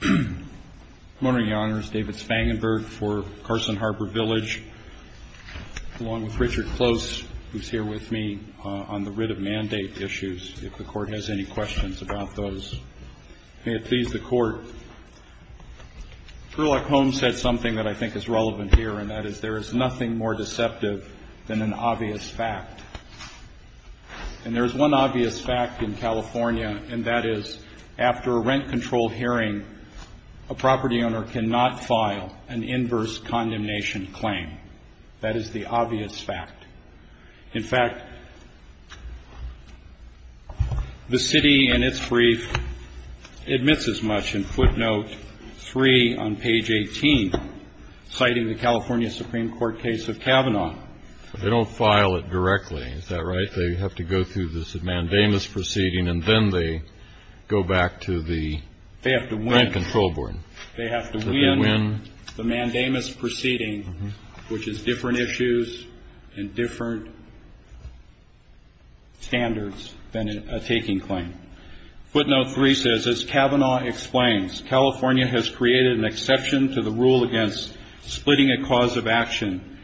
Good morning, your honors. David Spangenberg for Carson Harbor Village, along with Richard Close, who's here with me on the writ of mandate issues, if the court has any questions about those. May it please the court. Sherlock Holmes said something that I think is relevant here, and that is, there is nothing more deceptive than an obvious fact. And there's one obvious fact in California, and that is, after a rent-controlled hearing, a property owner cannot file an inverse condemnation claim. That is the obvious fact. In fact, the city, in its brief, admits as much in footnote 3 on page 18, citing the California Supreme Court case of Kavanaugh. They don't file it directly, is that right? They have to go through this mandamus proceeding, and then they go back to the rent-control board. They have to win the mandamus proceeding, which is different issues and different standards than a taking claim. Footnote 3 says, as Kavanaugh explains, California has created an exception to the rule against splitting a cause of action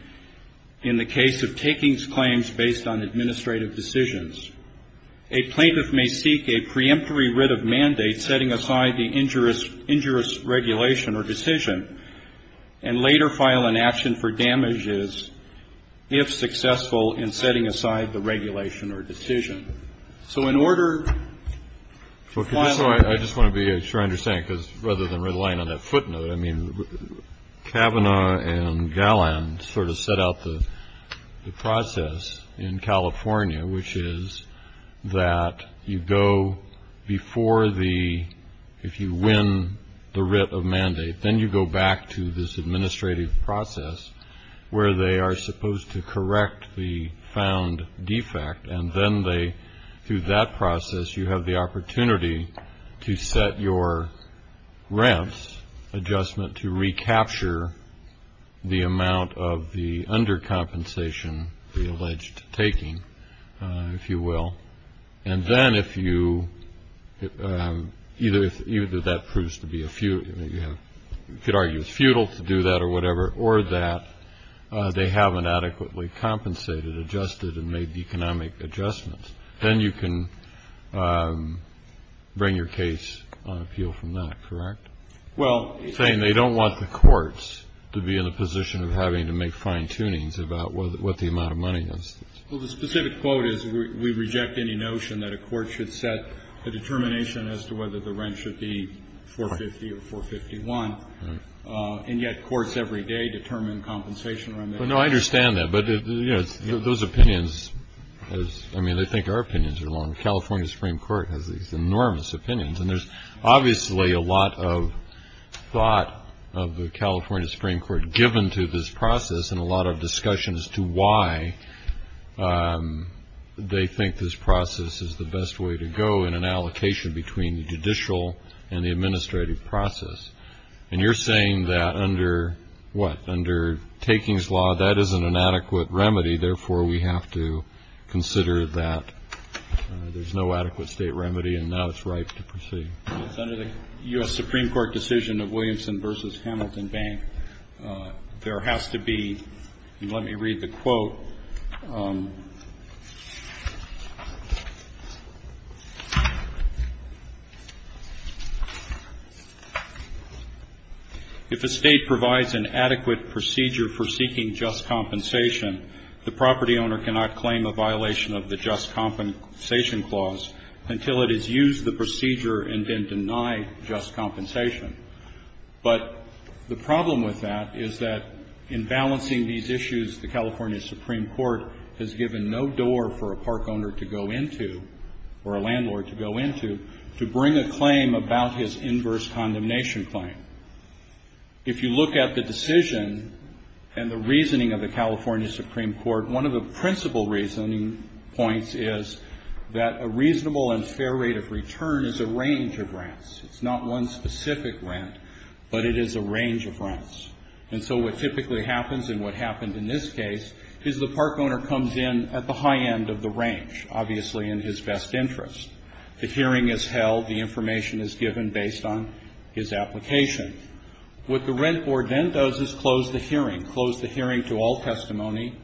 in the case of takings claims based on administrative decisions. A plaintiff may seek a preemptory writ of mandate setting aside the injurious regulation or decision and later file an action for damages if successful in setting aside the regulation or decision. I just want to be sure I understand, because rather than relying on that footnote, I mean, Kavanaugh and Galland sort of set out the process in California, which is that you go before the, if you win the writ of mandate, then you go back to this administrative process, where they are supposed to correct the found defect, and then they, through that process, you have the opportunity to set your rent adjustment to recapture the amount of the undercompensation, the alleged taking, if you will. And then if you, either that proves to be a, you could argue it's futile to do that or whatever, or that they haven't adequately compensated, adjusted, and made economic adjustments, then you can bring your case on appeal from that, correct? Well, saying they don't want the courts to be in the position of having to make fine-tunings about what the amount of money is. Well, the specific quote is we reject any notion that a court should set a determination as to whether the rent should be 450 or 451. Right. And yet courts every day determine compensation around that. Well, no, I understand that. But, you know, those opinions, I mean, they think our opinions are wrong. The California Supreme Court has these enormous opinions. And there's obviously a lot of thought of the California Supreme Court given to this process and a lot of discussion as to why they think this process is the best way to go in an allocation between the judicial and the administrative process. And you're saying that under what, under takings law, that isn't an adequate remedy, therefore we have to consider that there's no adequate state remedy and now it's ripe to proceed. It's under the U.S. Supreme Court decision of Williamson v. Hamilton Bank. There has to be, and let me read the quote. If a state provides an adequate procedure for seeking just compensation, the property owner cannot claim a violation of the just compensation clause until it has used the procedure and then denied just compensation. But the problem with that is that in balancing these issues, the California Supreme Court has given no door for a park owner to go into, or a landlord to go into, to bring a claim about his inverse condemnation claim. If you look at the decision and the reasoning of the California Supreme Court, one of the principal reasoning points is that a reasonable and fair rate of return is a range of rents. It's not one specific rent, but it is a range of rents. And so what typically happens, and what happened in this case, is the park owner comes in at the high end of the range, obviously in his best interest. The hearing is held. The information is given based on his application. What the rent board then does is close the hearing, close the hearing to all testimony.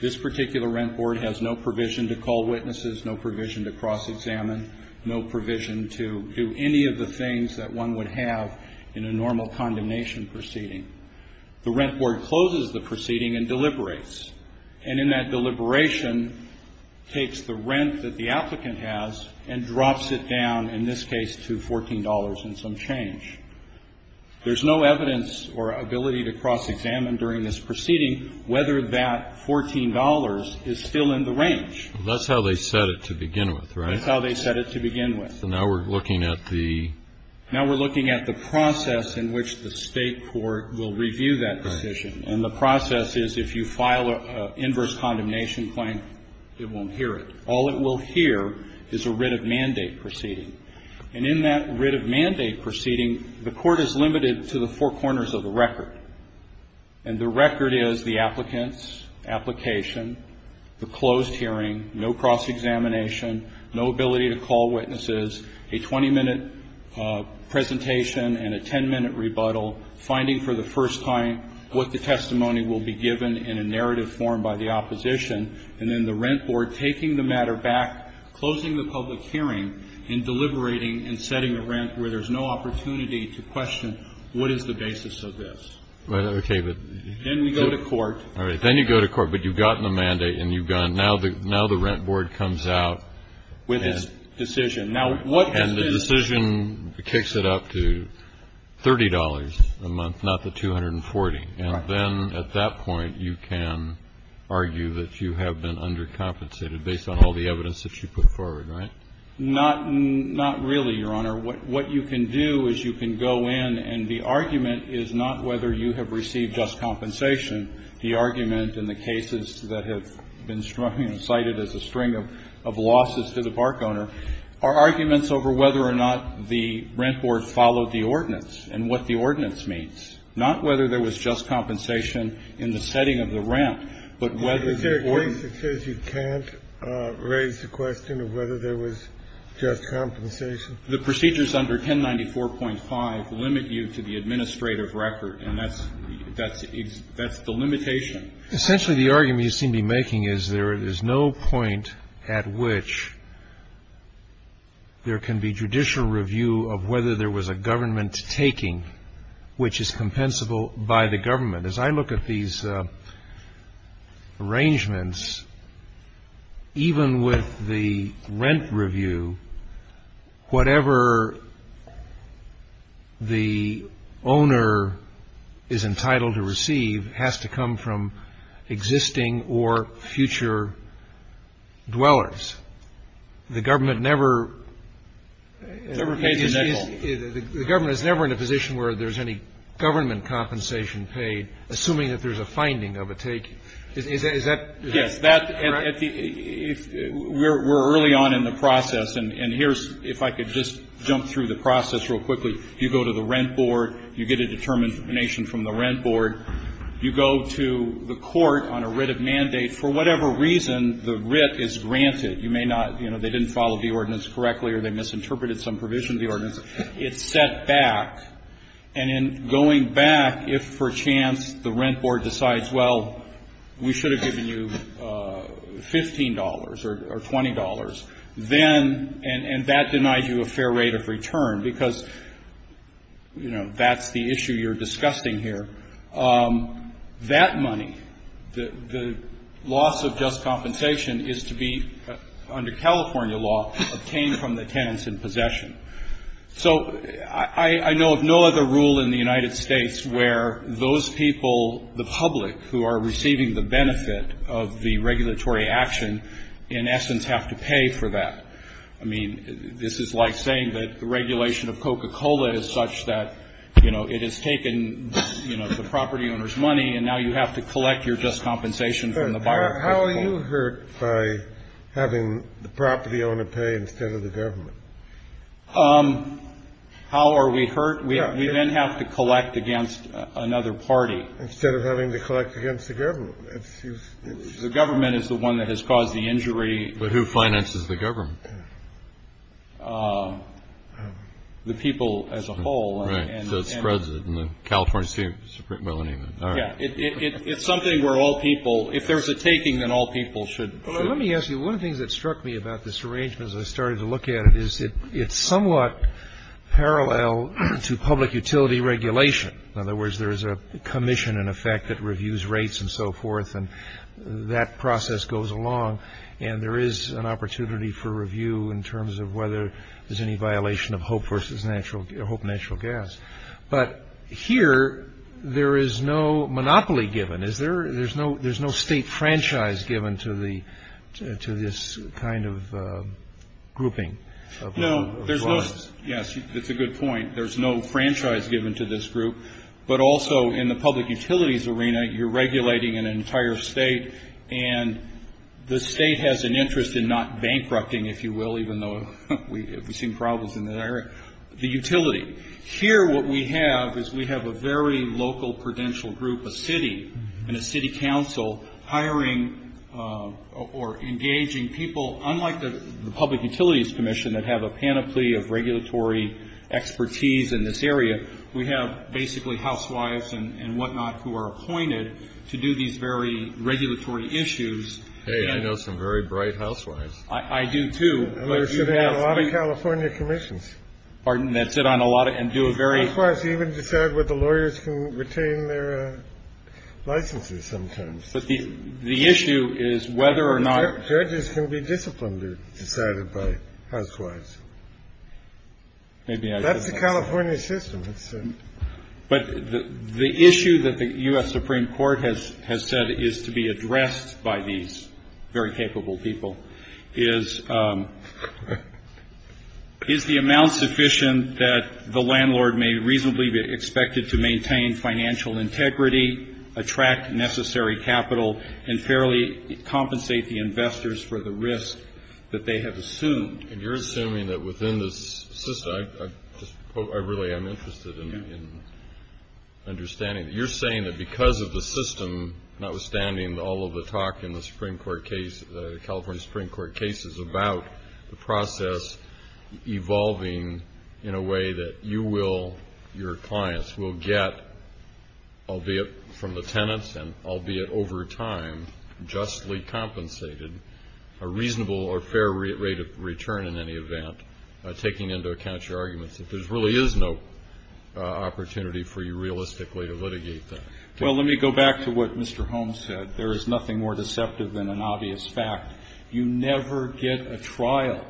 This particular rent board has no provision to call witnesses, no provision to cross-examine, no provision to do any of the things that one would have in a normal condemnation proceeding. The rent board closes the proceeding and deliberates. And in that deliberation, takes the rent that the applicant has and drops it down, in this case, to $14 and some change. There's no evidence or ability to cross-examine during this proceeding whether that $14 is still in the range. That's how they set it to begin with, right? That's how they set it to begin with. So now we're looking at the? Now we're looking at the process in which the State court will review that decision. Right. And the process is if you file an inverse condemnation claim, it won't hear it. All it will hear is a writ of mandate proceeding. And in that writ of mandate proceeding, the court is limited to the four corners of the record. And the record is the applicant's application, the closed hearing, no cross-examination, no ability to call witnesses, a 20-minute presentation and a 10-minute rebuttal, finding for the first time what the testimony will be given in a narrative form by the opposition, and then the rent board taking the matter back, closing the public hearing, and deliberating and setting a rent where there's no opportunity to question what is the basis of this. Right. Okay. Then we go to court. All right. Then you go to court. But you've gotten a mandate and you've gone. Now the rent board comes out with this decision. And the decision kicks it up to $30 a month, not the 240. Right. And then at that point you can argue that you have been undercompensated based on all the evidence that you put forward, right? Not really, Your Honor. What you can do is you can go in and the argument is not whether you have received just compensation. The argument in the cases that have been cited as a string of losses to the park owner are arguments over whether or not the rent board followed the ordinance and what the ordinance means, not whether there was just compensation in the setting of the rent, but whether the ordinance. Is there a case that says you can't raise the question of whether there was just compensation? The procedures under 1094.5 limit you to the administrative record, and that's the limitation. Essentially, the argument you seem to be making is there is no point at which there can be judicial review of whether there was a government taking which is compensable by the government. As I look at these arrangements, even with the rent review, whatever the owner is entitled to receive has to come from existing or future dwellers. The government never. The government is never in a position where there's any government compensation paid, assuming that there's a finding of a take. Is that correct? Yes. We're early on in the process. And here's, if I could just jump through the process real quickly. You go to the rent board. You get a determination from the rent board. You go to the court on a writ of mandate. For whatever reason, the writ is granted. You may not, you know, they didn't follow the ordinance correctly or they misinterpreted some provision of the ordinance. It's set back. And in going back, if for chance the rent board decides, well, we should have given you $15 or $20, then, and that denies you a fair rate of return because, you know, that's the issue you're discussing here. That money, the loss of just compensation, is to be, under California law, obtained from the tenants in possession. So I know of no other rule in the United States where those people, the public, who are receiving the benefit of the regulatory action in essence have to pay for that. I mean, this is like saying that the regulation of Coca-Cola is such that, you know, it has taken the property owner's money and now you have to collect your just compensation from the buyer. How are you hurt by having the property owner pay instead of the government? How are we hurt? We then have to collect against another party. Instead of having to collect against the government. The government is the one that has caused the injury. But who finances the government? The people as a whole. Right. So it spreads it in the California Supreme, well, anyway. It's something where all people, if there's a taking, then all people should. Let me ask you, one of the things that struck me about this arrangement as I started to look at it is it's somewhat parallel to public utility regulation. In other words, there is a commission in effect that reviews rates and so forth, and that process goes along. And there is an opportunity for review in terms of whether there's any violation of Hope Natural Gas. But here, there is no monopoly given. There's no state franchise given to this kind of grouping. Yes, that's a good point. There's no franchise given to this group. But also in the public utilities arena, you're regulating an entire state. And the state has an interest in not bankrupting, if you will, even though we've seen problems in that area, the utility. Here, what we have is we have a very local prudential group, a city, and a city council hiring or engaging people. Unlike the Public Utilities Commission that have a panoply of regulatory expertise in this area, we have basically housewives and whatnot who are appointed to do these very regulatory issues. Hey, I know some very bright housewives. I do, too. You should have a lot of California commissions. Pardon? That sit on a lot of and do a very. Of course, even decide what the lawyers can retain their licenses sometimes. But the issue is whether or not. Judges can be disciplined or decided by housewives. Maybe that's the California system. But the issue that the U.S. Supreme Court has has said is to be addressed by these very capable people is. Is the amount sufficient that the landlord may reasonably be expected to maintain financial integrity, attract necessary capital and fairly compensate the investors for the risk that they have assumed? And you're assuming that within this system, I really am interested in understanding. You're saying that because of the system, notwithstanding all of the talk in the Supreme Court case, the California Supreme Court cases about the process evolving in a way that you will, your clients will get, albeit from the tenants and albeit over time, justly compensated a reasonable or fair rate of return in any event, taking into account your arguments that there really is no opportunity for you realistically to litigate that. Well, let me go back to what Mr. Holmes said. There is nothing more deceptive than an obvious fact. You never get a trial.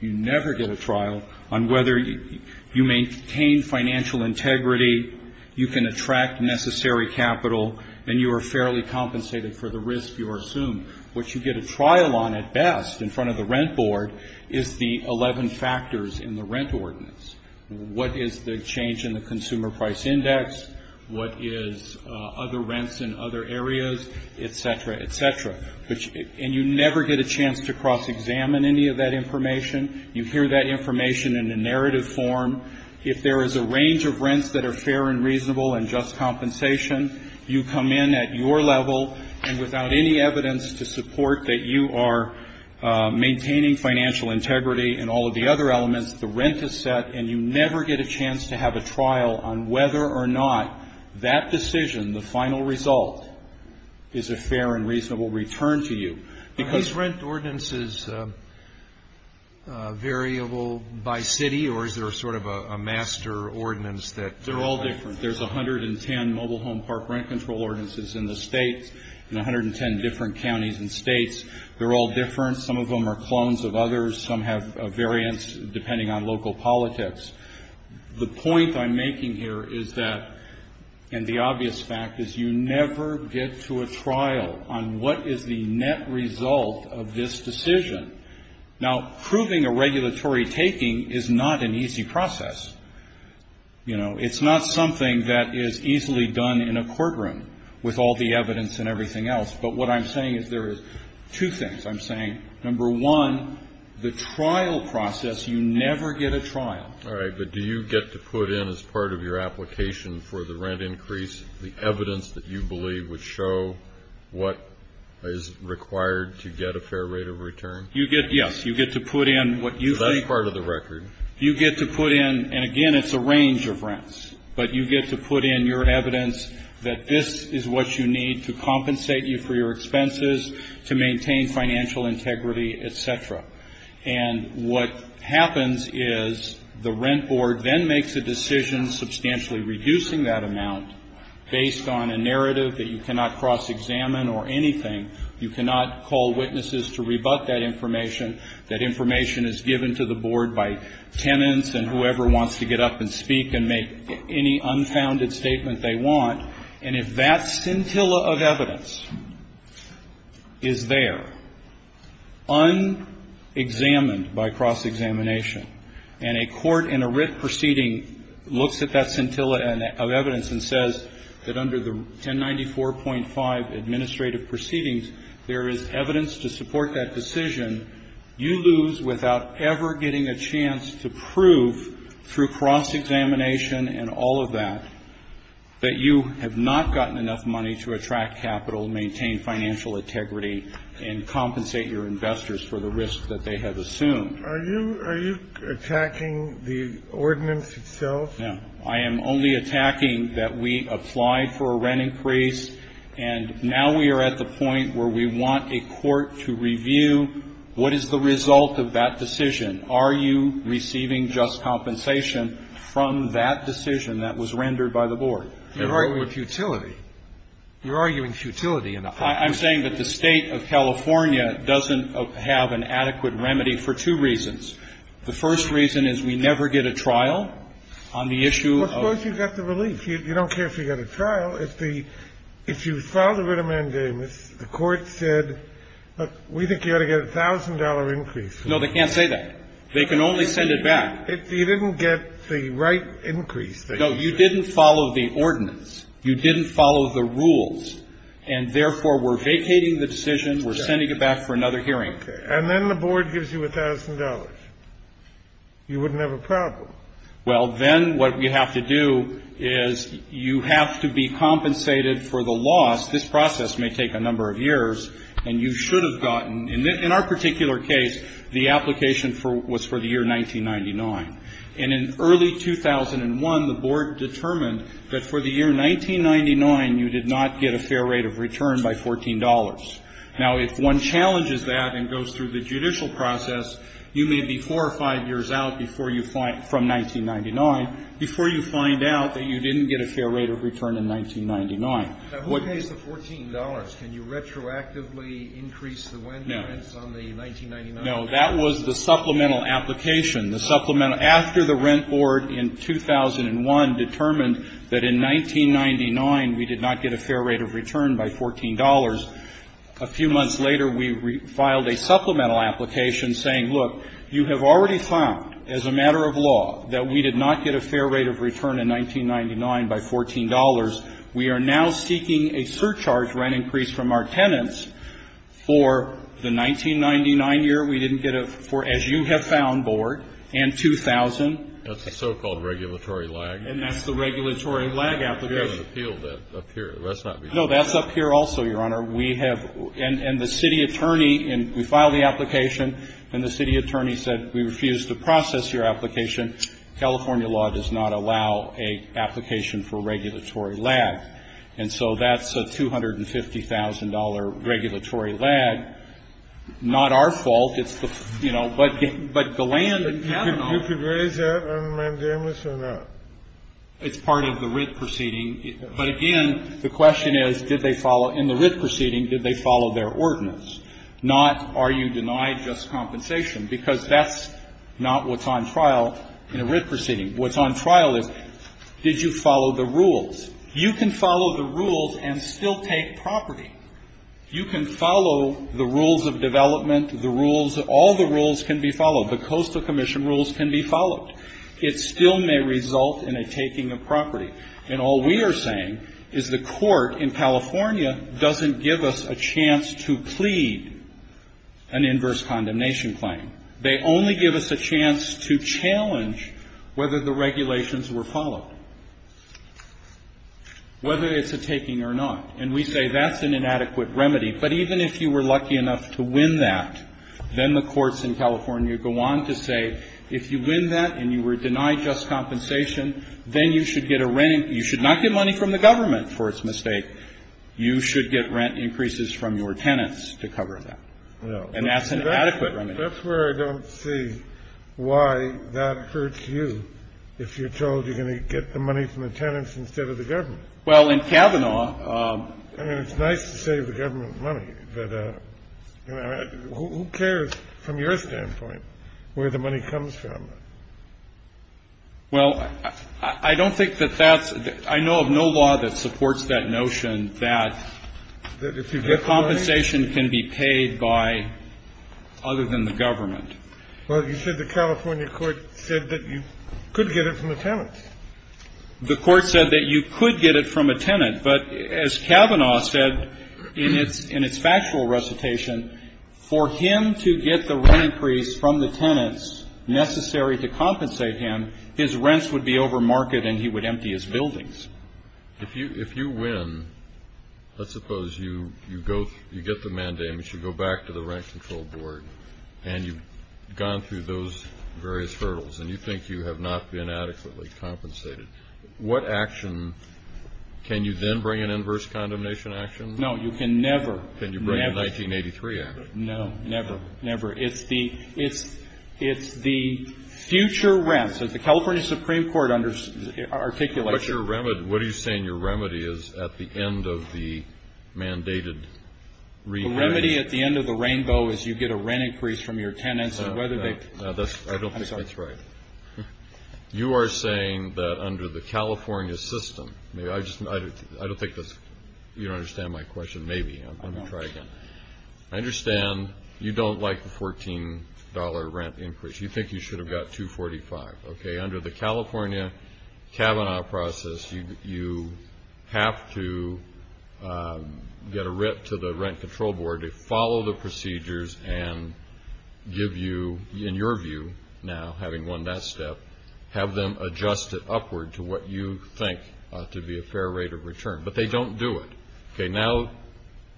You never get a trial on whether you maintain financial integrity, you can attract necessary capital, and you are fairly compensated for the risk you assume. What you get a trial on at best in front of the rent board is the 11 factors in the rent ordinance. What is the change in the consumer price index? What is other rents in other areas? Et cetera, et cetera. And you never get a chance to cross-examine any of that information. You hear that information in a narrative form. If there is a range of rents that are fair and reasonable and just compensation, you come in at your level and without any evidence to support that you are maintaining financial integrity and all of the other elements, the rent is set, and you never get a chance to have a trial on whether or not that decision, the final result, is a fair and reasonable return to you. Are these rent ordinances variable by city, or is there sort of a master ordinance that... They're all different. There's 110 mobile home park rent control ordinances in the states and 110 different counties and states. They're all different. Some of them are clones of others. Some have variants depending on local politics. The point I'm making here is that, and the obvious fact, is you never get to a trial on what is the net result of this decision. Now, proving a regulatory taking is not an easy process. You know, it's not something that is easily done in a courtroom with all the evidence and everything else. But what I'm saying is there is two things. I'm saying, number one, the trial process, you never get a trial. All right, but do you get to put in, as part of your application for the rent increase, the evidence that you believe would show what is required to get a fair rate of return? Yes, you get to put in what you think. That's part of the record. You get to put in, and again, it's a range of rents, but you get to put in your evidence that this is what you need to compensate you for your expenses, to maintain financial integrity, et cetera. And what happens is the rent board then makes a decision substantially reducing that amount, based on a narrative that you cannot cross-examine or anything. You cannot call witnesses to rebut that information. That information is given to the board by tenants and whoever wants to get up and speak and make any unfounded statement they want. And if that scintilla of evidence is there, unexamined by cross-examination, and a court in a writ proceeding looks at that scintilla of evidence and says that under the 1094.5 administrative proceedings, there is evidence to support that decision, you lose without ever getting a chance to prove through cross-examination and all of that, that you have not gotten enough money to attract capital, maintain financial integrity, and compensate your investors for the risk that they have assumed. Are you attacking the ordinance itself? No. I am only attacking that we applied for a rent increase, and now we are at the point where we want a court to review what is the result of that decision. Are you receiving just compensation from that decision that was rendered by the board? You are arguing futility. You are arguing futility. I'm saying that the State of California doesn't have an adequate remedy for two reasons. The first reason is we never get a trial on the issue of ‑‑ Well, of course you get the relief. You don't care if you get a trial. If you filed a writ amendamus, the court said, look, we think you ought to get a $1,000 increase. No, they can't say that. They can only send it back. You didn't get the right increase. No, you didn't follow the ordinance. You didn't follow the rules. And therefore, we're vacating the decision. We're sending it back for another hearing. Okay. And then the board gives you $1,000. You wouldn't have a problem. Well, then what we have to do is you have to be compensated for the loss. This process may take a number of years. And you should have gotten ‑‑ in our particular case, the application was for the year 1999. And in early 2001, the board determined that for the year 1999, you did not get a fair rate of return by $14. Now, if one challenges that and goes through the judicial process, you may be four or five years out from 1999 before you find out that you didn't get a fair rate of return in 1999. Now, who pays the $14? Can you retroactively increase the rents on the 1999? No, that was the supplemental application. The supplemental ‑‑ after the rent board in 2001 determined that in 1999 we did not get a fair rate of return by $14, a few months later we filed a supplemental application saying, look, you have already found as a matter of law that we did not get a fair rate of return in 1999 by $14. We are now seeking a surcharge rent increase from our tenants for the 1999 year. We didn't get a ‑‑ for as you have found, board, and 2000. That's the so‑called regulatory lag. And that's the regulatory lag application. We have an appeal up here. That's not the appeal. No, that's up here also, Your Honor. We have ‑‑ and the city attorney, and we filed the application, and the city attorney said we refuse to process your application. California law does not allow an application for regulatory lag. And so that's a $250,000 regulatory lag. Not our fault. It's the, you know, but Golan and Kavanaugh. You could raise that on mandamus or not? It's part of the writ proceeding. But, again, the question is, did they follow ‑‑ in the writ proceeding, did they follow their ordinance? Not are you denied just compensation? Because that's not what's on trial in a writ proceeding. What's on trial is did you follow the rules? You can follow the rules and still take property. You can follow the rules of development, the rules, all the rules can be followed. The coastal commission rules can be followed. It still may result in a taking of property. And all we are saying is the court in California doesn't give us a chance to plead an inverse condemnation claim. They only give us a chance to challenge whether the regulations were followed, whether it's a taking or not. And we say that's an inadequate remedy. But even if you were lucky enough to win that, then the courts in California go on to say if you win that and you were denied just compensation, then you should get a rent ‑‑ you should not get money from the government for its mistake. You should get rent increases from your tenants to cover that. And that's an adequate remedy. Kennedy. That's where I don't see why that hurts you if you're told you're going to get the money from the tenants instead of the government. Well, in Kavanaugh ‑‑ I mean, it's nice to save the government money. But who cares from your standpoint where the money comes from? Well, I don't think that that's ‑‑ I know of no law that supports that notion that the compensation can be paid by other than the government. Well, you said the California court said that you could get it from the tenants. The court said that you could get it from a tenant. But as Kavanaugh said in its factual recitation, for him to get the rent increase from the tenants necessary to compensate him, his rents would be overmarket and he would empty his buildings. If you win, let's suppose you go ‑‑ you get the mandamus, you go back to the rent control board, and you've gone through those various hurdles and you think you have not been adequately compensated. What action ‑‑ can you then bring an inverse condemnation action? No, you can never, never. Can you bring a 1983 act? No, never, never. It's the future rents that the California Supreme Court articulated. What's your remedy? What are you saying your remedy is at the end of the mandated ‑‑ The remedy at the end of the rainbow is you get a rent increase from your tenants and whether they ‑‑ I don't think that's right. You are saying that under the California system, I don't think that's ‑‑ you don't understand my question. Maybe. Let me try again. I understand you don't like the $14 rent increase. You think you should have got 245. Okay. Under the California Kavanaugh process, you have to get a writ to the rent control board to follow the procedures and give you, in your view now, having won that step, have them adjust it upward to what you think to be a fair rate of return. But they don't do it. Okay. Now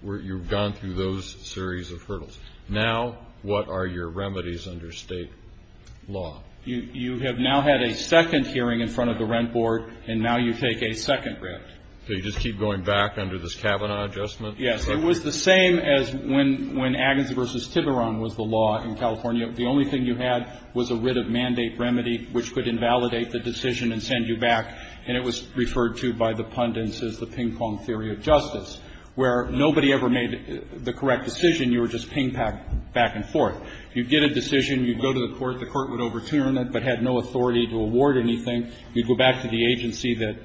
you've gone through those series of hurdles. Now what are your remedies under state law? You have now had a second hearing in front of the rent board, and now you take a second writ. So you just keep going back under this Kavanaugh adjustment? Yes. It was the same as when Agnes v. Tiburon was the law in California. The only thing you had was a writ of mandate remedy which could invalidate the decision and send you back. And it was referred to by the pundits as the ping pong theory of justice, where nobody ever made the correct decision. You were just ping‑ponged back and forth. You'd get a decision. You'd go to the court. The court would overturn it but had no authority to award anything. You'd go back to the agency that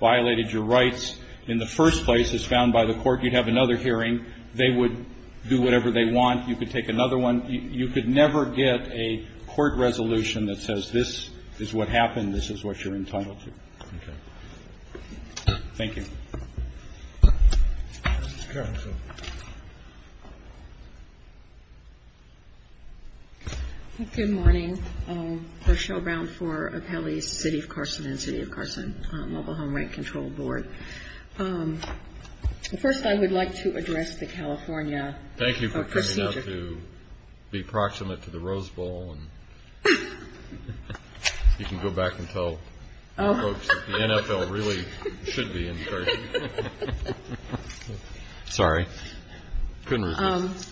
violated your rights. In the first place, as found by the court, you'd have another hearing. They would do whatever they want. You could take another one. You could never get a court resolution that says this is what happened, this is what you're entitled to. Okay. Thank you. Ms. Carlson. Good morning. Rochelle Brown for Apelli's City of Carson and City of Carson Mobile Home Rent Control Board. First, I would like to address the California procedure. Thank you for coming out to be proximate to the Rose Bowl. You can go back and tell the folks that the NFL really should be in Carson. Sorry. Couldn't resist.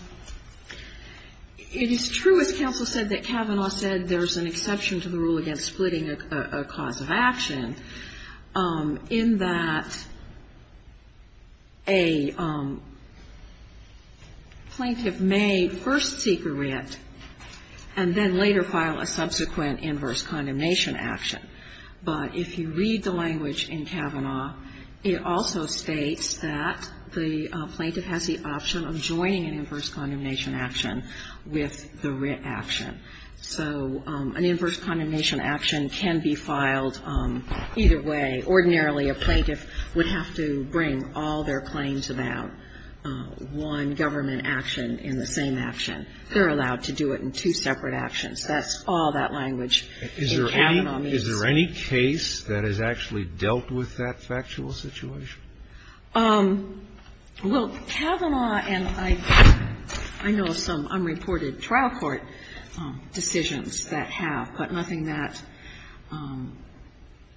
It is true, as counsel said, that Kavanaugh said there's an exception to the rule against splitting a cause of action in that a plaintiff may first seek a writ and then later file a subsequent inverse condemnation action. But if you read the language in Kavanaugh, it also states that the plaintiff has the option of joining an inverse condemnation action with the writ action. So an inverse condemnation action can be filed either way. Ordinarily, a plaintiff would have to bring all their claims about one government action in the same action. They're allowed to do it in two separate actions. That's all that language in Kavanaugh means. Is there any case that has actually dealt with that factual situation? Well, Kavanaugh and I know of some unreported trial court decisions that have, but nothing that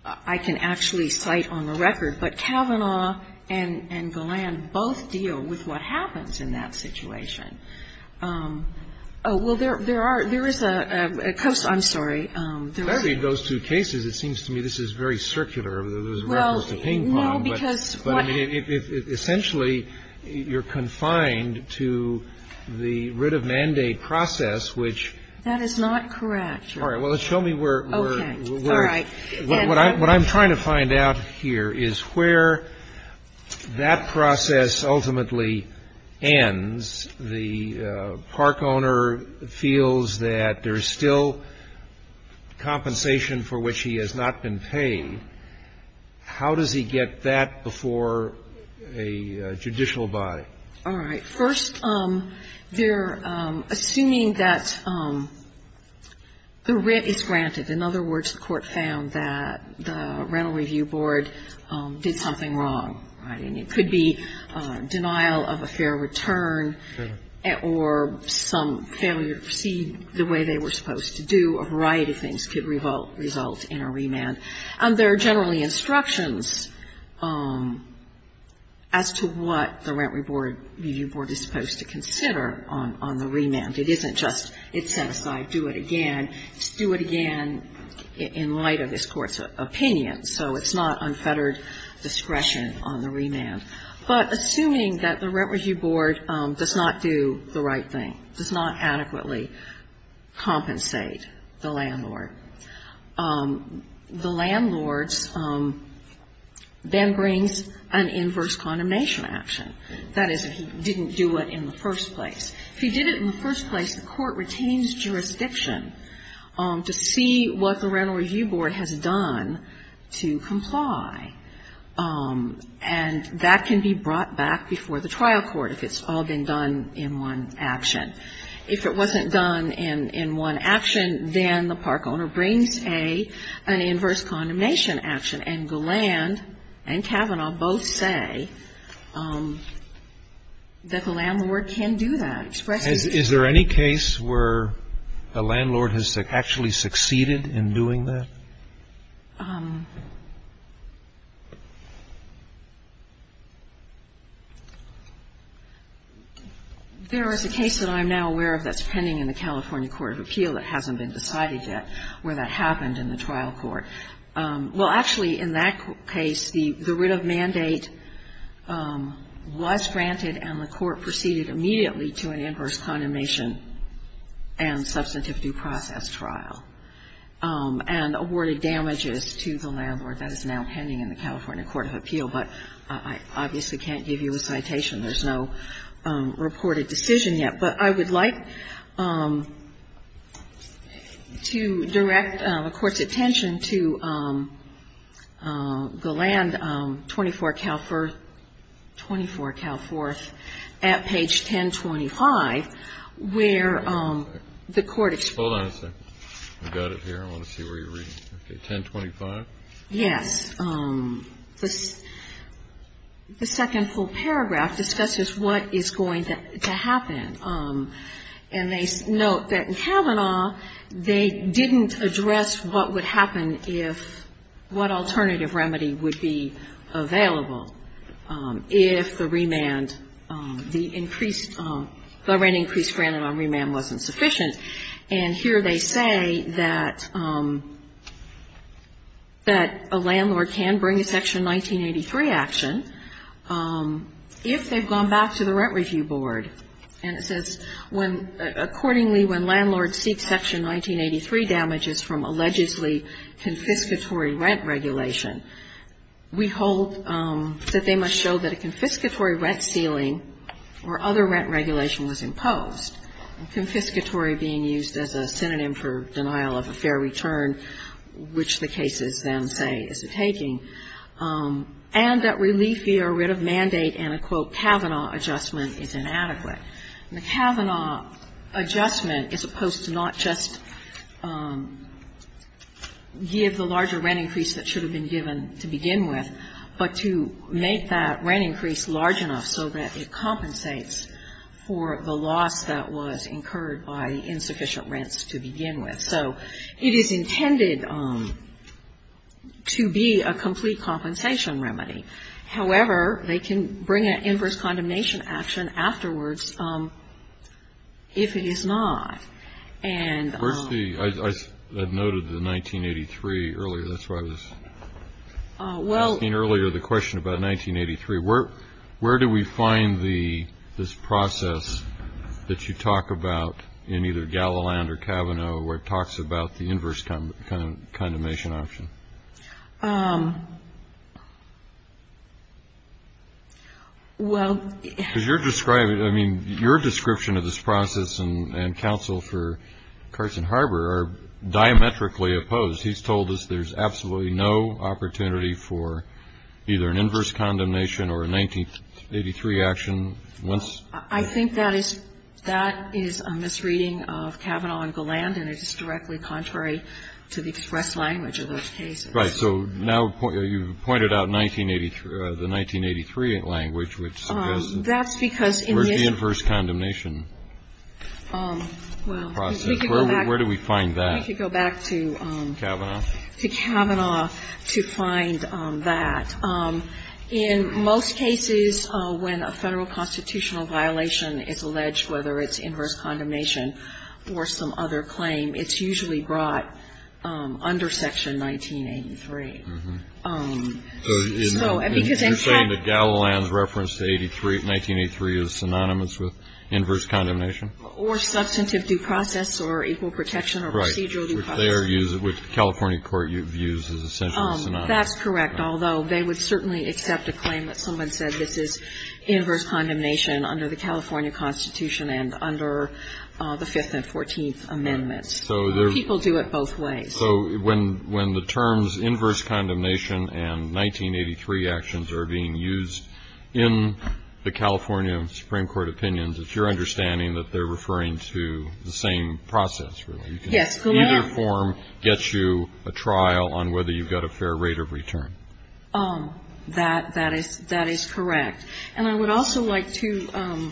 I can actually cite on the record. But Kavanaugh and Golan both deal with what happens in that situation. Well, there are – there is a – I'm sorry. In those two cases, it seems to me this is very circular. There's a reference to ping-pong. Well, no, because what – But, I mean, essentially, you're confined to the writ of mandate process, which – That is not correct. All right. Well, show me where – where – Okay. All right. What I'm trying to find out here is where that process ultimately ends. All right. First, they're assuming that the writ is granted. In other words, the Court found that the Rental Review Board did something wrong, right? And it could be denial of a fair return. It's not a fair return. It's not a fair return. Or some failure to proceed the way they were supposed to do. A variety of things could result in a remand. And there are generally instructions as to what the Rental Review Board is supposed to consider on the remand. It isn't just it's set aside, do it again. It's do it again in light of this Court's opinion. So it's not unfettered discretion on the remand. But assuming that the Rental Review Board does not do the right thing, does not adequately compensate the landlord, the landlord then brings an inverse condemnation action. That is, if he didn't do it in the first place. If he did it in the first place, the Court retains jurisdiction to see what the Rental Review Board has done to comply. And that can be brought back before the trial court if it's all been done in one action. If it wasn't done in one action, then the park owner brings an inverse condemnation action. And Goland and Kavanaugh both say that the landlord can do that. Is there any case where the landlord has actually succeeded in doing that? There is a case that I'm now aware of that's pending in the California Court of Appeal that hasn't been decided yet where that happened in the trial court. Well, actually, in that case, the writ of mandate was granted and the court proceeded immediately to an inverse condemnation and substantive due process trial and awarded damages to the landlord. That is now pending in the California Court of Appeal. But I obviously can't give you a citation. There's no reported decision yet. But I would like to direct the Court's attention to Goland, 24 Cal 4th, 24 Cal 4th, at page 1025, where the court explained. I've got it here. I want to see where you're reading. Okay. 1025? Yes. The second full paragraph discusses what is going to happen. And they note that in Kavanaugh, they didn't address what would happen if what alternative remedy would be available if the remand, the increased grant on remand wasn't sufficient. And here they say that a landlord can bring a Section 1983 action if they've gone back to the Rent Review Board. And it says, accordingly when landlords seek Section 1983 damages from allegedly confiscatory rent regulation, we hold that they must show that a confiscatory rent ceiling or other rent regulation was imposed. Confiscatory being used as a synonym for denial of a fair return, which the cases then say is a taking. And that relief via a writ of mandate and a, quote, Kavanaugh adjustment is inadequate. The Kavanaugh adjustment is supposed to not just give the larger rent increase that should have been given to begin with, but to make that rent increase large enough so that it compensates for the loss that was incurred by insufficient rents to begin with. So it is intended to be a complete compensation remedy. However, they can bring an inverse condemnation action afterwards if it is not. And the first thing, I noted the 1983 earlier. That's why I was asking earlier the question about 1983. Where do we find this process that you talk about in either Galiland or Kavanaugh where it talks about the inverse condemnation option? Well. Because you're describing it. I mean, your description of this process and counsel for Carson Harbor are diametrically opposed. So, in other words, he's told us there's absolutely no opportunity for either an inverse condemnation or a 1983 action once. I think that is a misreading of Kavanaugh and Galiland, and it is directly contrary to the express language of those cases. Right. So now you've pointed out the 1983 language, which says. That's because in this. Where's the inverse condemnation? Well, we could go back. Where do we find that? We could go back to. Kavanaugh. To Kavanaugh to find that. In most cases, when a Federal constitutional violation is alleged, whether it's inverse condemnation or some other claim, it's usually brought under Section 1983. Mm-hmm. So, because in fact. Or substantive due process or equal protection or procedural due process. Right. Which the California court views as essentially a synonym. That's correct. Although they would certainly accept a claim that someone said this is inverse condemnation under the California Constitution and under the Fifth and Fourteenth Amendments. People do it both ways. So, when the terms inverse condemnation and 1983 actions are being used in the California Supreme Court opinions, it's your understanding that they're referring to the same process, really. Yes. Go ahead. Either form gets you a trial on whether you've got a fair rate of return. That is correct. And I would also like to point out.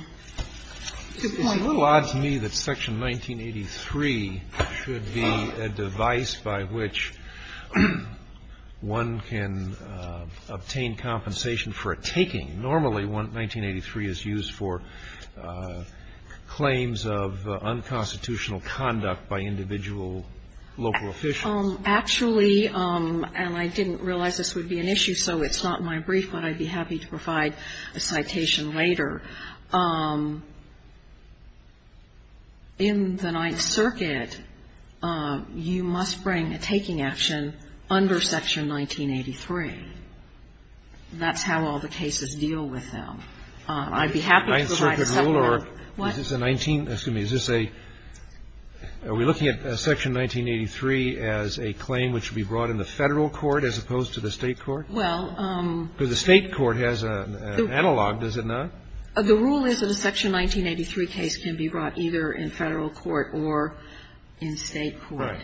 It's a little odd to me that Section 1983 should be a device by which one can obtain compensation for a taking. Normally, 1983 is used for claims of unconstitutional conduct by individual local officials. Actually, and I didn't realize this would be an issue, so it's not in my brief, but I'd be happy to provide a citation later. In the Ninth Circuit, you must bring a taking action under Section 1983. That's how all the cases deal with them. I'd be happy to provide a supplemental. The Ninth Circuit rule, or is this a 19, excuse me, is this a, are we looking at Section 1983 as a claim which should be brought in the Federal court as opposed to the State court? Well. Because the State court has an analog, does it not? The rule is that a Section 1983 case can be brought either in Federal court or in State court.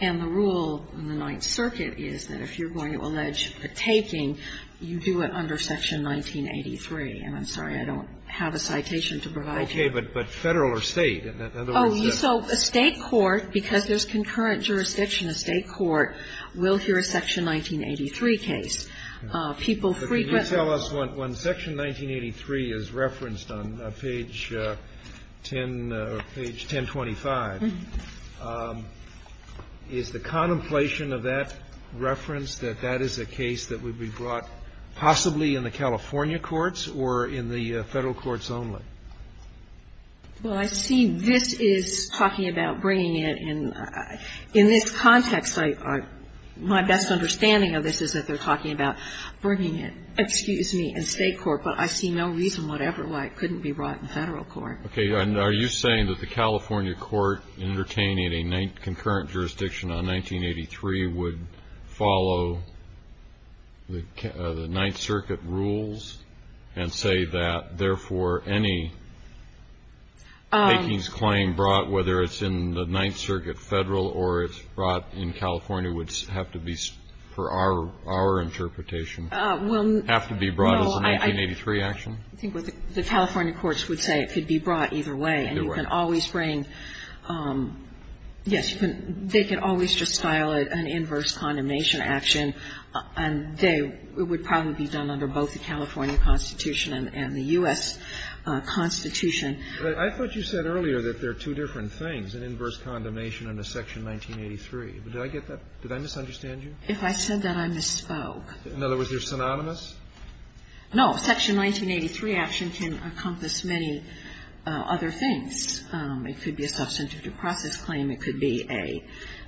And the rule in the Ninth Circuit is that if you're going to allege a taking, you do it under Section 1983. And I'm sorry, I don't have a citation to provide you. Okay. But Federal or State? Oh, so a State court, because there's concurrent jurisdiction, a State court will hear a Section 1983 case. People frequently. Can you tell us when Section 1983 is referenced on page 10 or page 1025, is the contemplation of that reference that that is a case that would be brought possibly in the California courts or in the Federal courts only? Well, I see this is talking about bringing it in. In this context, my best understanding of this is that they're talking about bringing it, excuse me, in State court. But I see no reason whatever why it couldn't be brought in Federal court. Okay. And are you saying that the California court entertaining a concurrent jurisdiction on 1983 would follow the Ninth Circuit rules and say that, therefore, any takings claim brought, whether it's in the Ninth Circuit Federal or it's brought in California, would have to be for our interpretation? Well, no. Have to be brought as a 1983 action? I think what the California courts would say, it could be brought either way. Either way. And you can always bring, yes, you can. They can always just file an inverse condemnation action, and they would probably be done under both the California Constitution and the U.S. Constitution. I thought you said earlier that there are two different things, an inverse condemnation and a Section 1983. Did I get that? Did I misunderstand you? If I said that, I misspoke. In other words, you're synonymous? No. Section 1983 action can encompass many other things. It could be a substantive due process claim. It could be a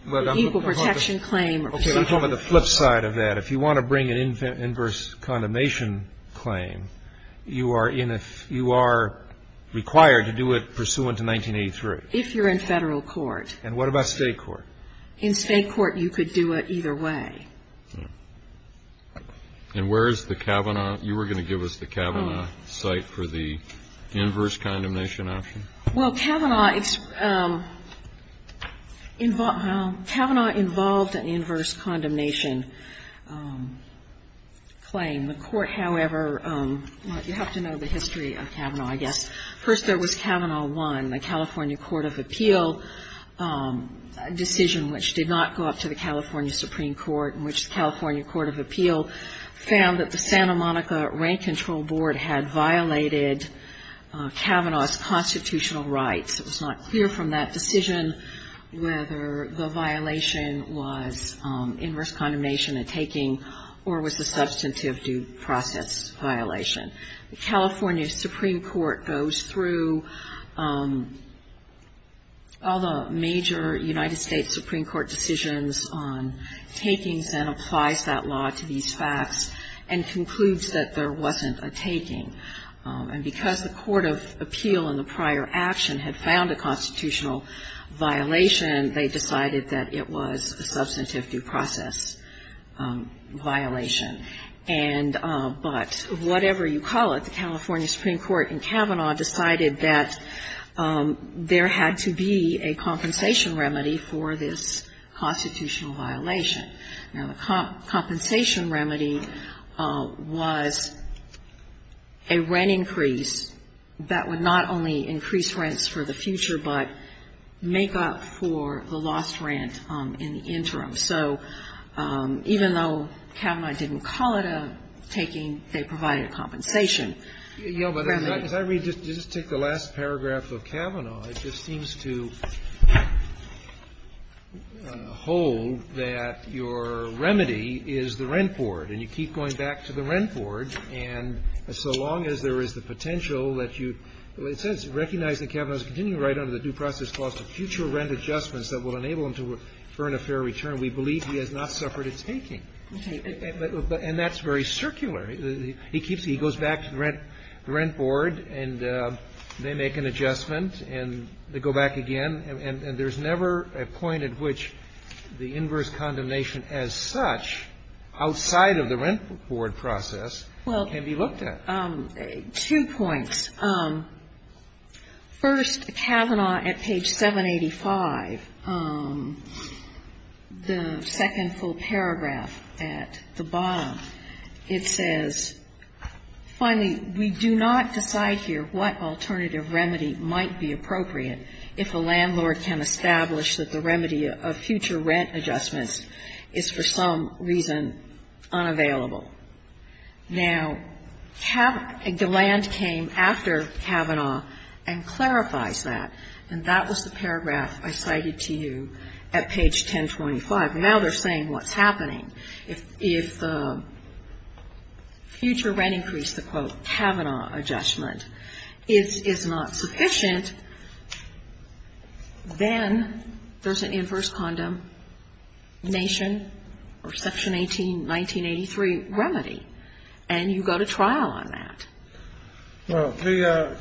legal protection claim. Okay. I'm talking about the flip side of that. If you want to bring an inverse condemnation claim, you are in a you are required to do it pursuant to 1983. If you're in Federal court. And what about State court? In State court, you could do it either way. And where is the Kavanaugh? You were going to give us the Kavanaugh cite for the inverse condemnation action? Well, Kavanaugh involved an inverse condemnation claim. The Court, however, you have to know the history of Kavanaugh, I guess. First, there was Kavanaugh 1, the California Court of Appeal decision which did not go up to the California Supreme Court in which the California Court of Appeal found that the Santa Monica Rank Control Board had violated Kavanaugh's constitutional rights. It was not clear from that decision whether the violation was inverse condemnation and taking or was the substantive due process violation. The California Supreme Court goes through all the major United States Supreme Court decisions on takings and applies that law to these facts and concludes that there wasn't a taking. And because the Court of Appeal in the prior action had found a constitutional violation, they decided that it was a substantive due process violation. And but whatever you call it, the California Supreme Court in Kavanaugh decided that there had to be a compensation remedy for this constitutional violation. Now, the compensation remedy was a rent increase that would not only increase rents for the future but make up for the lost rent in the interim. So even though Kavanaugh didn't call it a taking, they provided a compensation remedy. Yeah, but as I read, just take the last paragraph of Kavanaugh. It just seems to hold that your remedy is the rent board. And you keep going back to the rent board. And so long as there is the potential that you, it says, recognize that Kavanaugh is continuing to write under the due process clause to future rent adjustments that will enable him to earn a fair return. We believe he has not suffered a taking. And that's very circular. He keeps, he goes back to the rent board, and they make an adjustment, and they go back again. And there's never a point at which the inverse condemnation as such, outside of the rent board process, can be looked at. Well, two points. First, Kavanaugh, at page 785, the second full paragraph at the bottom, it says, finally, we do not decide here what alternative remedy might be appropriate if a landlord can establish that the remedy of future rent adjustments is for some reason unavailable. Now, Kavanaugh, the land came after Kavanaugh and clarifies that. And that was the paragraph I cited to you at page 1025. Now they're saying what's happening. If the future rent increase, the, quote, Kavanaugh adjustment, is not sufficient, then there's an inverse condemnation or Section 18, 1983 remedy, and you go to trial on that. Well, the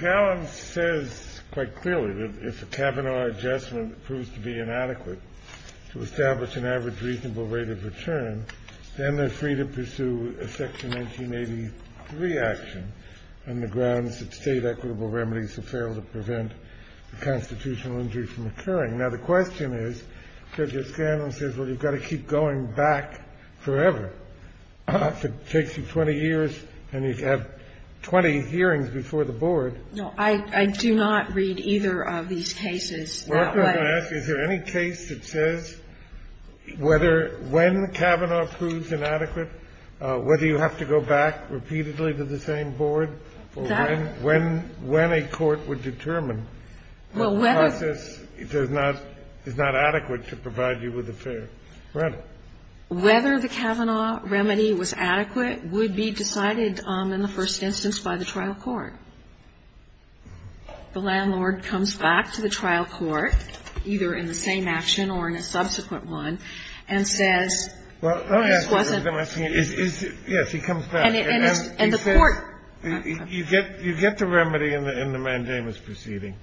Caron says quite clearly that if a Kavanaugh adjustment proves to be inadequate to establish an average reasonable rate of return, then they're free to pursue a Section 1983 action on the grounds that State equitable remedies have failed to prevent a constitutional injury from occurring. Now, the question is, Judge O'Scanlan says, well, you've got to keep going back forever. If it takes you 20 years and you have 20 hearings before the board. No, I do not read either of these cases that way. I'm going to ask you, is there any case that says whether, when Kavanaugh proves inadequate, whether you have to go back repeatedly to the same board for when, when a court would determine what process does not, is not adequate to provide you with a fair rental? Whether the Kavanaugh remedy was adequate would be decided in the first instance by the trial court. The landlord comes back to the trial court, either in the same action or in a subsequent one, and says, this wasn't. Well, let me ask you a question. Yes, he comes back. And the court. You get the remedy in the mandamus proceeding.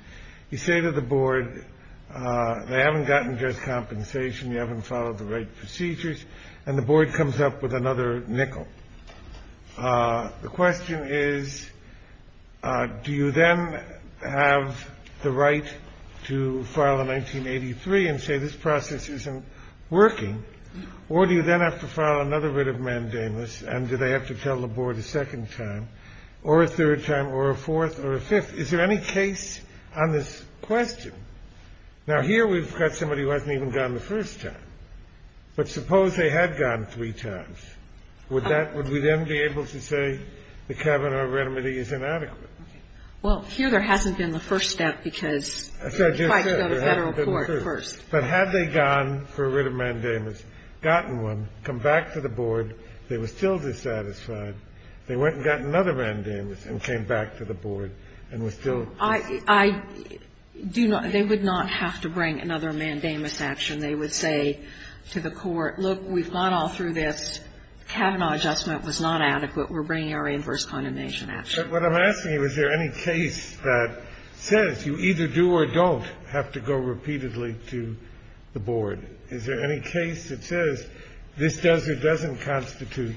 You say to the board, they haven't gotten just compensation, you haven't followed the right procedures, and the board comes up with another nickel. The question is, do you then have the right to file a 1983 and say this process isn't working, or do you then have to file another writ of mandamus, and do they have to tell the board a second time, or a third time, or a fourth, or a fifth? Is there any case on this question? Now, here we've got somebody who hasn't even gone the first time. But suppose they had gone three times. Would that ñ would we then be able to say the Kavanaugh remedy is inadequate? Well, here there hasn't been the first step, because you have to go to federal court first. But had they gone for a writ of mandamus, gotten one, come back to the board, they were still dissatisfied. They went and got another mandamus and came back to the board and were still dissatisfied. I do not ñ they would not have to bring another mandamus action. They would say to the court, look, we've gone all through this. Kavanaugh adjustment was not adequate. We're bringing our inverse condemnation action. But what I'm asking you, is there any case that says you either do or don't have to go repeatedly to the board? Is there any case that says this does or doesn't constitute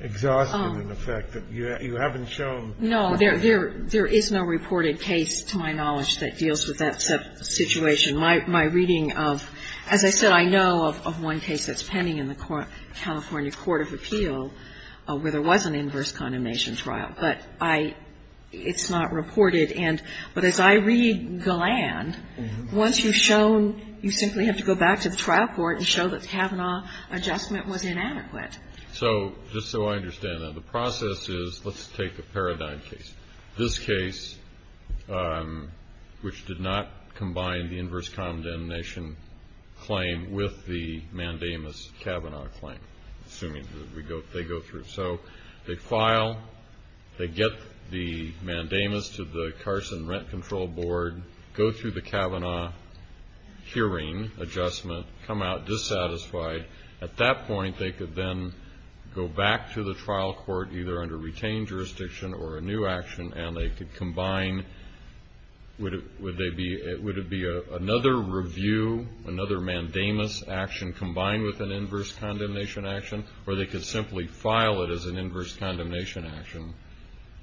exhaustion, in effect, that you haven't shown? No, there is no reported case, to my knowledge, that deals with that situation. My reading of ñ as I said, I know of one case that's pending in the California court of appeal where there was an inverse condemnation trial. But I ñ it's not reported. And ñ but as I read Galland, once you've shown you simply have to go back to the trial court and show that Kavanaugh adjustment was inadequate. So just so I understand that, the process is ñ let's take the Paradigm case. This case, which did not combine the inverse condemnation claim with the Mandamus-Kavanaugh claim, assuming that we go ñ they go through. So they file. They get the Mandamus to the Carson Rent Control Board, go through the Kavanaugh hearing adjustment, come out dissatisfied. At that point, they could then go back to the trial court, either under retained jurisdiction or a new action, and they could combine ñ would they be ñ would it be another review, another Mandamus action combined with an inverse condemnation action? Or they could simply file it as an inverse condemnation action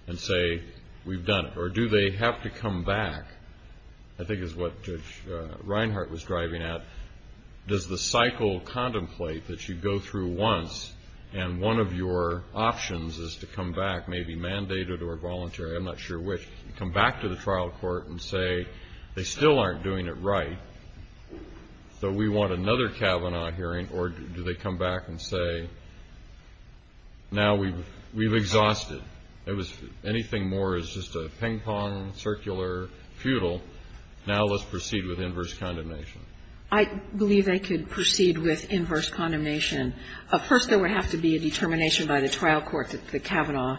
and say, we've done it. Or do they have to come back, I think is what Judge Reinhart was driving at. Does the cycle contemplate that you go through once, and one of your options is to come back, maybe mandated or voluntary, I'm not sure which, come back to the trial court and say, they still aren't doing it right. So we want another Kavanaugh hearing, or do they come back and say, now we've ñ we've exhausted. It was ñ anything more is just a ping-pong, circular, futile. Now let's proceed with inverse condemnation. I believe they could proceed with inverse condemnation. First there would have to be a determination by the trial court that the Kavanaugh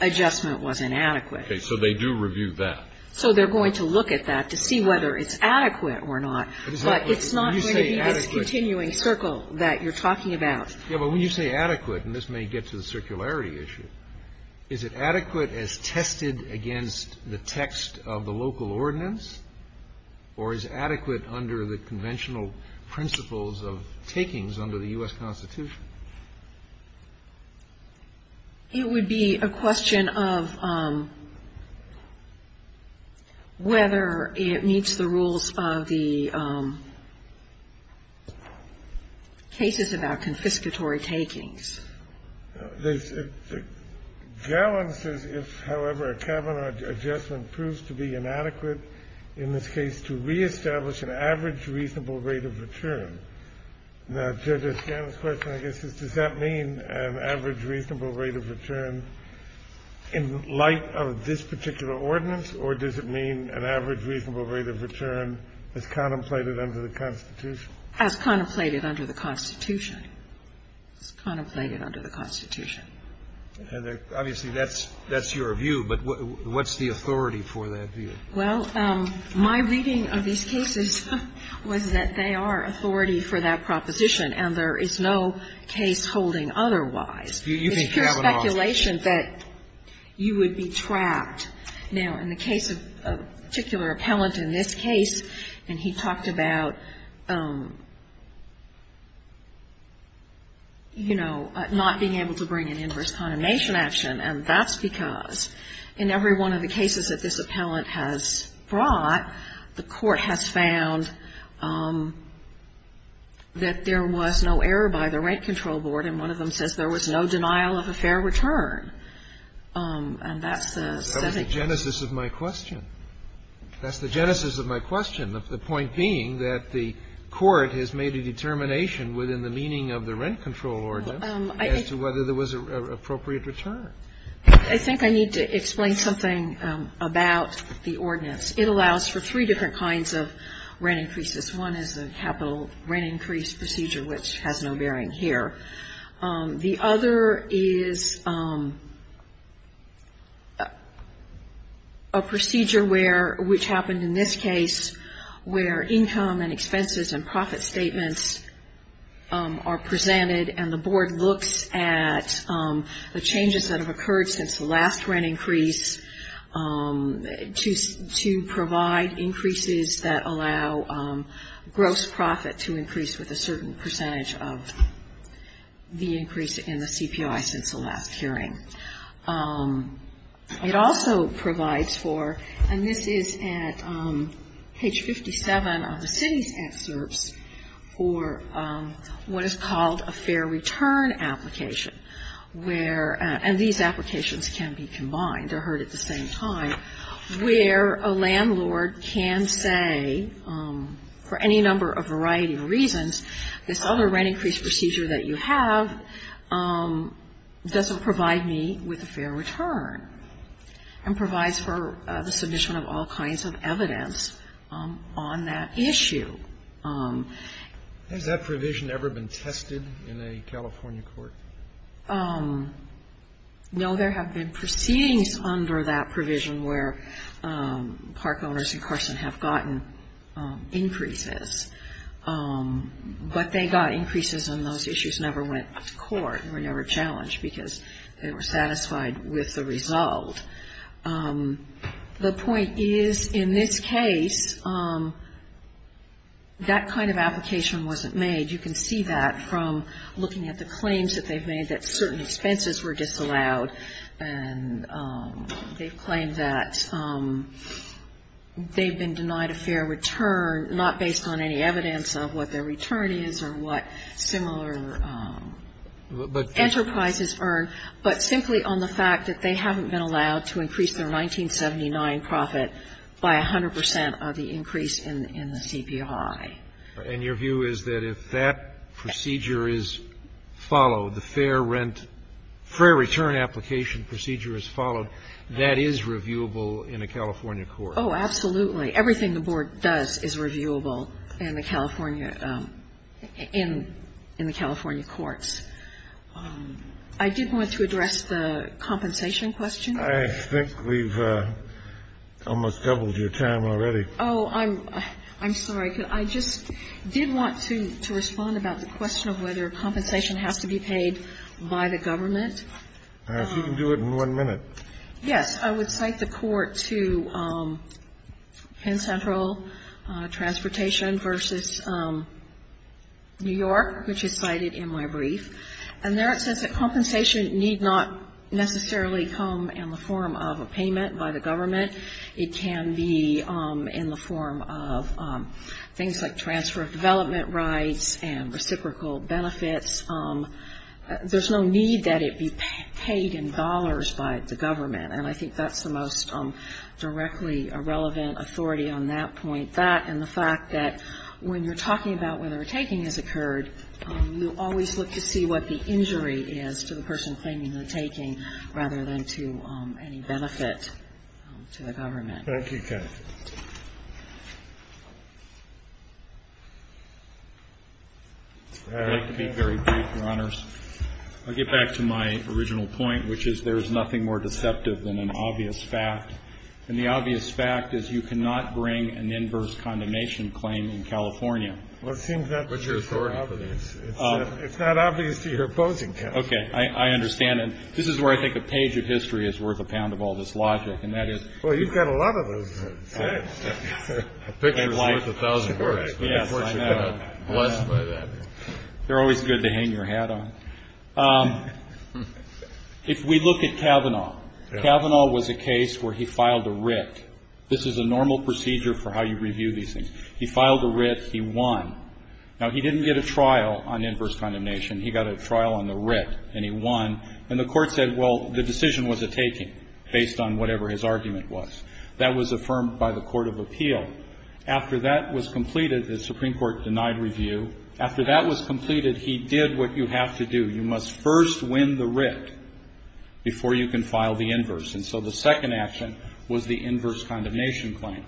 adjustment was inadequate. Okay. So they do review that. So they're going to look at that to see whether it's adequate or not. But it's not going to be this continuing circle that you're talking about. Yeah. But when you say adequate, and this may get to the circularity issue, is it adequate as tested against the text of the local ordinance, or is it adequate under the conventional principles of takings under the U.S. Constitution? It would be a question of whether it meets the rules of the cases of our confiscatory takings. There's ñ Gellon says, if, however, a Kavanaugh adjustment proves to be inadequate in this case, to reestablish an average reasonable rate of return. Now, Judge O'Shaughnessy's question, I guess, is does that mean an average reasonable rate of return in light of this particular ordinance, or does it mean an average reasonable rate of return as contemplated under the Constitution? As contemplated under the Constitution. As contemplated under the Constitution. Obviously, that's ñ that's your view. But what's the authority for that view? Well, my reading of these cases was that they are authority for that proposition, and there is no case holding otherwise. It's pure speculation that you would be trapped. Now, in the case of a particular appellant in this case, and he talked about, you know, not being able to bring an inverse condemnation action, and that's because in every one of the cases that this appellant has brought, the Court has found that there was no error by the Rent Control Board, and one of them says there was no denial of a fair return. And that's the setting. That was the genesis of my question. That's the genesis of my question, the point being that the Court has made a determination within the meaning of the Rent Control Ordinance as to whether there was an appropriate return. I think I need to explain something about the ordinance. It allows for three different kinds of rent increases. One is a capital rent increase procedure, which has no bearing here. The other is a procedure where, which happened in this case, where income and expenses and profit statements are presented, and the Board looks at the changes that have occurred since the last rent increase to provide increases that allow gross profit to increase with a certain percentage of the increase in the CPI since the last hearing. It also provides for, and this is at page 57 of the city's excerpts, for what is called a fair return application, where, and these applications can be combined or heard at the same time, where a landlord can say, for any number of variety of reasons, this other rent increase procedure that you have doesn't provide me with a fair return, and provides for the submission of all kinds of evidence on that issue. Has that provision ever been tested in a California court? No, there have been proceedings under that provision where park owners in Carson have gotten increases, but they got increases and those issues never went to court, were never challenged, because they were satisfied with the result. The point is, in this case, that kind of application wasn't made. You can see that from looking at the claims that they've made that certain expenses were disallowed, and they've claimed that they've been denied a fair return, not based on any evidence of what their return is or what similar enterprises earn, but simply on the fact that they haven't been allowed to increase their 1979 profit by 100 percent of the increase in the CPI. And your view is that if that procedure is followed, the fair return application procedure is followed, that is reviewable in a California court? Oh, absolutely. Everything the Board does is reviewable in the California courts. I did want to address the compensation question. I think we've almost doubled your time already. Oh, I'm sorry. I just did want to respond about the question of whether compensation has to be paid by the government. If you can do it in one minute. Yes. I would cite the court to Penn Central Transportation v. New York, which is cited in my brief. And there it says that compensation need not necessarily come in the form of a payment by the government. It can be in the form of things like transfer of development rights and reciprocal benefits. There's no need that it be paid in dollars by the government, and I think that's the most directly relevant authority on that point. That and the fact that when you're talking about whether a taking has occurred, you always look to see what the injury is to the person claiming the taking, rather than to any benefit to the government. Thank you. I'd like to be very brief, Your Honors. I'll get back to my original point, which is there's nothing more deceptive than an obvious fact. And the obvious fact is you cannot bring an inverse condemnation claim in California. It's not obvious to your opposing counsel. Okay. I understand. And this is where I think a page of history is worth a pound of all this logic. Well, you've got a lot of those things. A picture's worth a thousand words. Yes, I know. They're always good to hang your hat on. If we look at Kavanaugh, Kavanaugh was a case where he filed a writ. This is a normal procedure for how you review these things. He filed a writ. He won. Now, he didn't get a trial on inverse condemnation. He got a trial on the writ, and he won. And the Court said, well, the decision was a taking, based on whatever his argument was. That was affirmed by the Court of Appeal. After that was completed, the Supreme Court denied review. After that was completed, he did what you have to do. You must first win the writ before you can file the inverse. And so the second action was the inverse condemnation claim.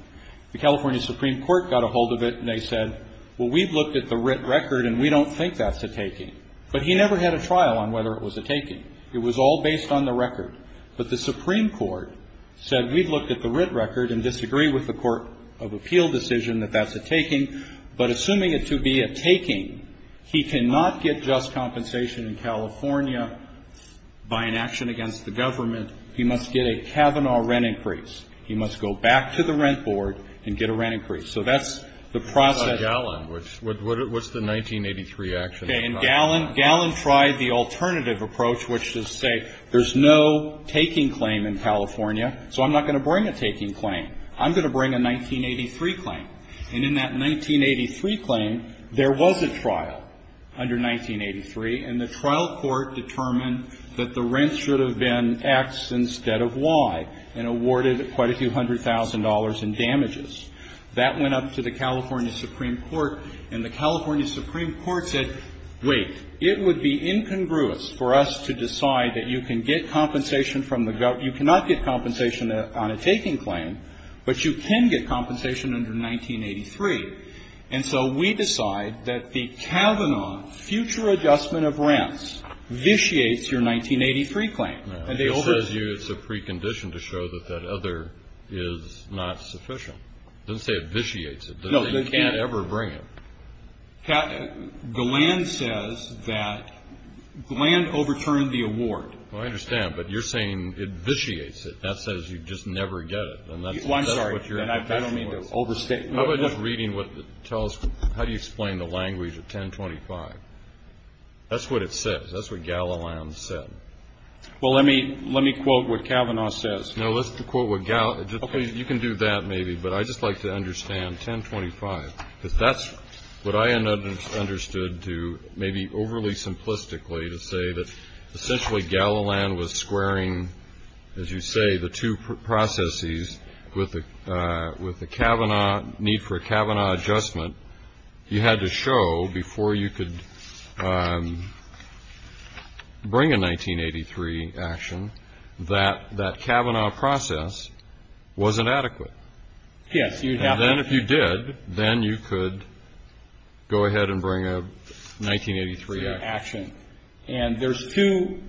The California Supreme Court got a hold of it, and they said, well, we've looked at the writ record, and we don't think that's a taking. But he never had a trial on whether it was a taking. It was all based on the record. But the Supreme Court said, we've looked at the writ record and disagree with the Court of Appeal decision that that's a taking. But assuming it to be a taking, he cannot get just compensation in California by an action against the government. He must get a Kavanaugh rent increase. He must go back to the rent board and get a rent increase. So that's the process. Kennedy. It's on Gallin. What's the 1983 action? Okay. And Gallin tried the alternative approach, which is to say, there's no taking claim in California, so I'm not going to bring a taking claim. I'm going to bring a 1983 claim. And in that 1983 claim, there was a trial under 1983, and the trial court determined that the rents should have been X instead of Y and awarded quite a few hundred thousand dollars in damages. That went up to the California Supreme Court, and the California Supreme Court said, wait, it would be incongruous for us to decide that you can get compensation from the government. You cannot get compensation on a taking claim, but you can get compensation under 1983. And so we decide that the Kavanaugh future adjustment of rents vitiates your 1983 claim. And they overturned it. No. It says here it's a precondition to show that that other is not sufficient. It doesn't say it vitiates it. No. It doesn't say you can't ever bring it. Gallin says that Gallin overturned the award. Well, I understand. But you're saying it vitiates it. That says you just never get it. And that's what your impression was. Well, I'm sorry. I don't mean to overstate. I was just reading what it tells you. How do you explain the language of 1025? That's what it says. That's what Gallin said. Well, let me quote what Kavanaugh says. No, let's quote what Gallin. You can do that maybe, but I'd just like to understand 1025, because that's what I understood to maybe overly simplistically to say that essentially Gallin was squaring, as you say, the two processes with the Kavanaugh need for a Kavanaugh adjustment. You had to show before you could bring a 1983 action that that Kavanaugh process wasn't adequate. Yes, you'd have to. And then if you did, then you could go ahead and bring a 1983 action. And there's two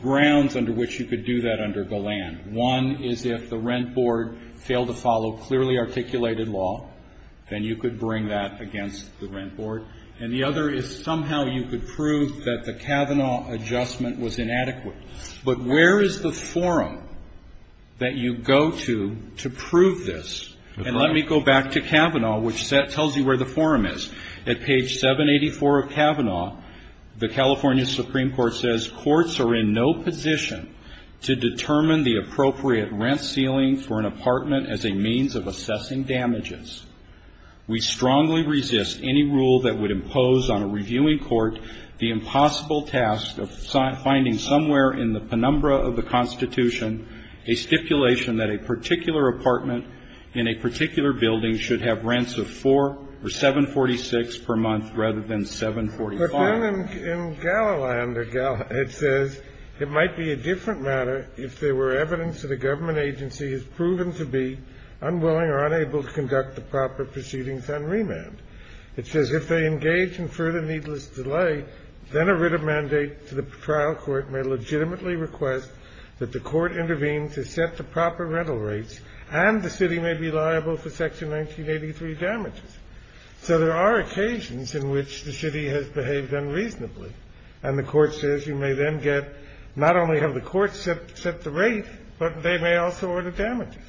grounds under which you could do that under Gallin. One is if the rent board failed to follow clearly articulated law, then you could bring that against the rent board. And the other is somehow you could prove that the Kavanaugh adjustment was inadequate. But where is the forum that you go to to prove this? And let me go back to Kavanaugh, which tells you where the forum is. At page 784 of Kavanaugh, the California Supreme Court says, courts are in no position to determine the appropriate rent ceiling for an apartment as a means of assessing damages. We strongly resist any rule that would impose on a reviewing court the impossible task of finding somewhere in the penumbra of the Constitution a stipulation that a particular apartment in a particular building should have rents of $4 or $7.46 per month rather than $7.45. But then in Gallin, it says it might be a different matter if there were evidence that a government agency has proven to be unwilling or unable to conduct the proper proceedings on remand. It says if they engage in further needless delay, then a writ of mandate to the trial court may legitimately request that the court intervene to set the proper rental rates, and the city may be liable for Section 1983 damages. So there are occasions in which the city has behaved unreasonably. And the court says you may then get not only have the court set the rate, but they may also order damages.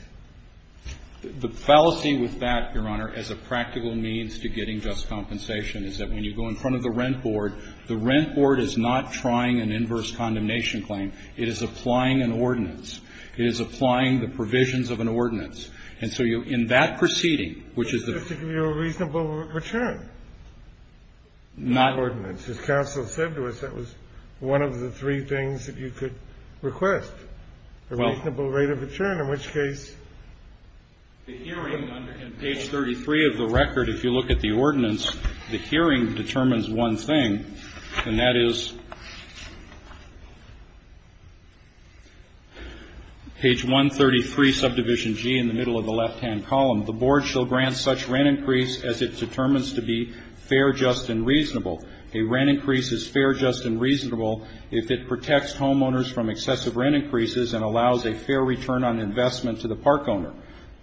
The fallacy with that, Your Honor, as a practical means to getting just compensation is that when you go in front of the rent board, the rent board is not trying an inverse condemnation claim. It is applying an ordinance. It is applying the provisions of an ordinance. And so in that proceeding, which is the ---- It's supposed to give you a reasonable return. Not ordinance. As counsel said to us, that was one of the three things that you could request, a reasonable rate of return, in which case ---- The hearing on page 33 of the record, if you look at the ordinance, the hearing determines one thing, and that is page 133, subdivision G, in the middle of the left-hand column. The board shall grant such rent increase as it determines to be fair, just, and reasonable. A rent increase is fair, just, and reasonable if it protects homeowners from excessive rent increases and allows a fair return on investment to the park owner.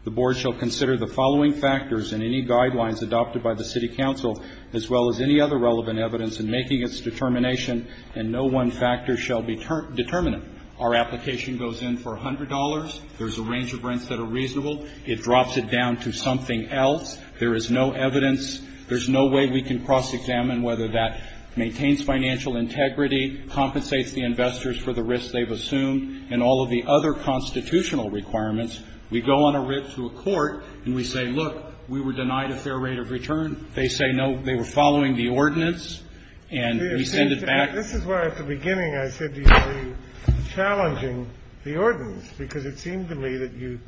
The board shall consider the following factors and any guidelines adopted by the city council, as well as any other relevant evidence in making its determination, and no one factor shall determine it. Our application goes in for $100. There's a range of rents that are reasonable. It drops it down to something else. There is no evidence. There's no way we can cross-examine whether that maintains financial integrity, compensates the investors for the risk they've assumed, and all of the other constitutional requirements. We go on a rip to a court, and we say, look, we were denied a fair rate of return. They say, no, they were following the ordinance, and we send it back. This is why at the beginning I said you were challenging the ordinance, because it seemed to me that you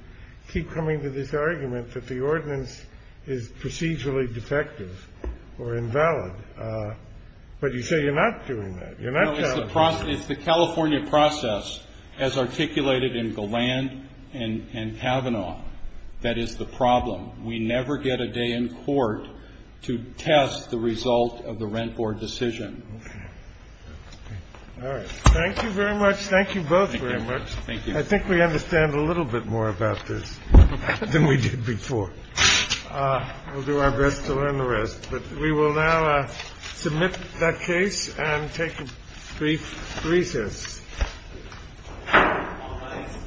keep coming to this argument that the ordinance is procedurally defective or invalid. But you say you're not doing that. It's the California process, as articulated in Galland and Kavanaugh, that is the problem. We never get a day in court to test the result of the rent board decision. All right. Thank you very much. Thank you both very much. Thank you. I think we understand a little bit more about this than we did before. We'll do our best to learn the rest. But we will now submit that case and take a brief recess.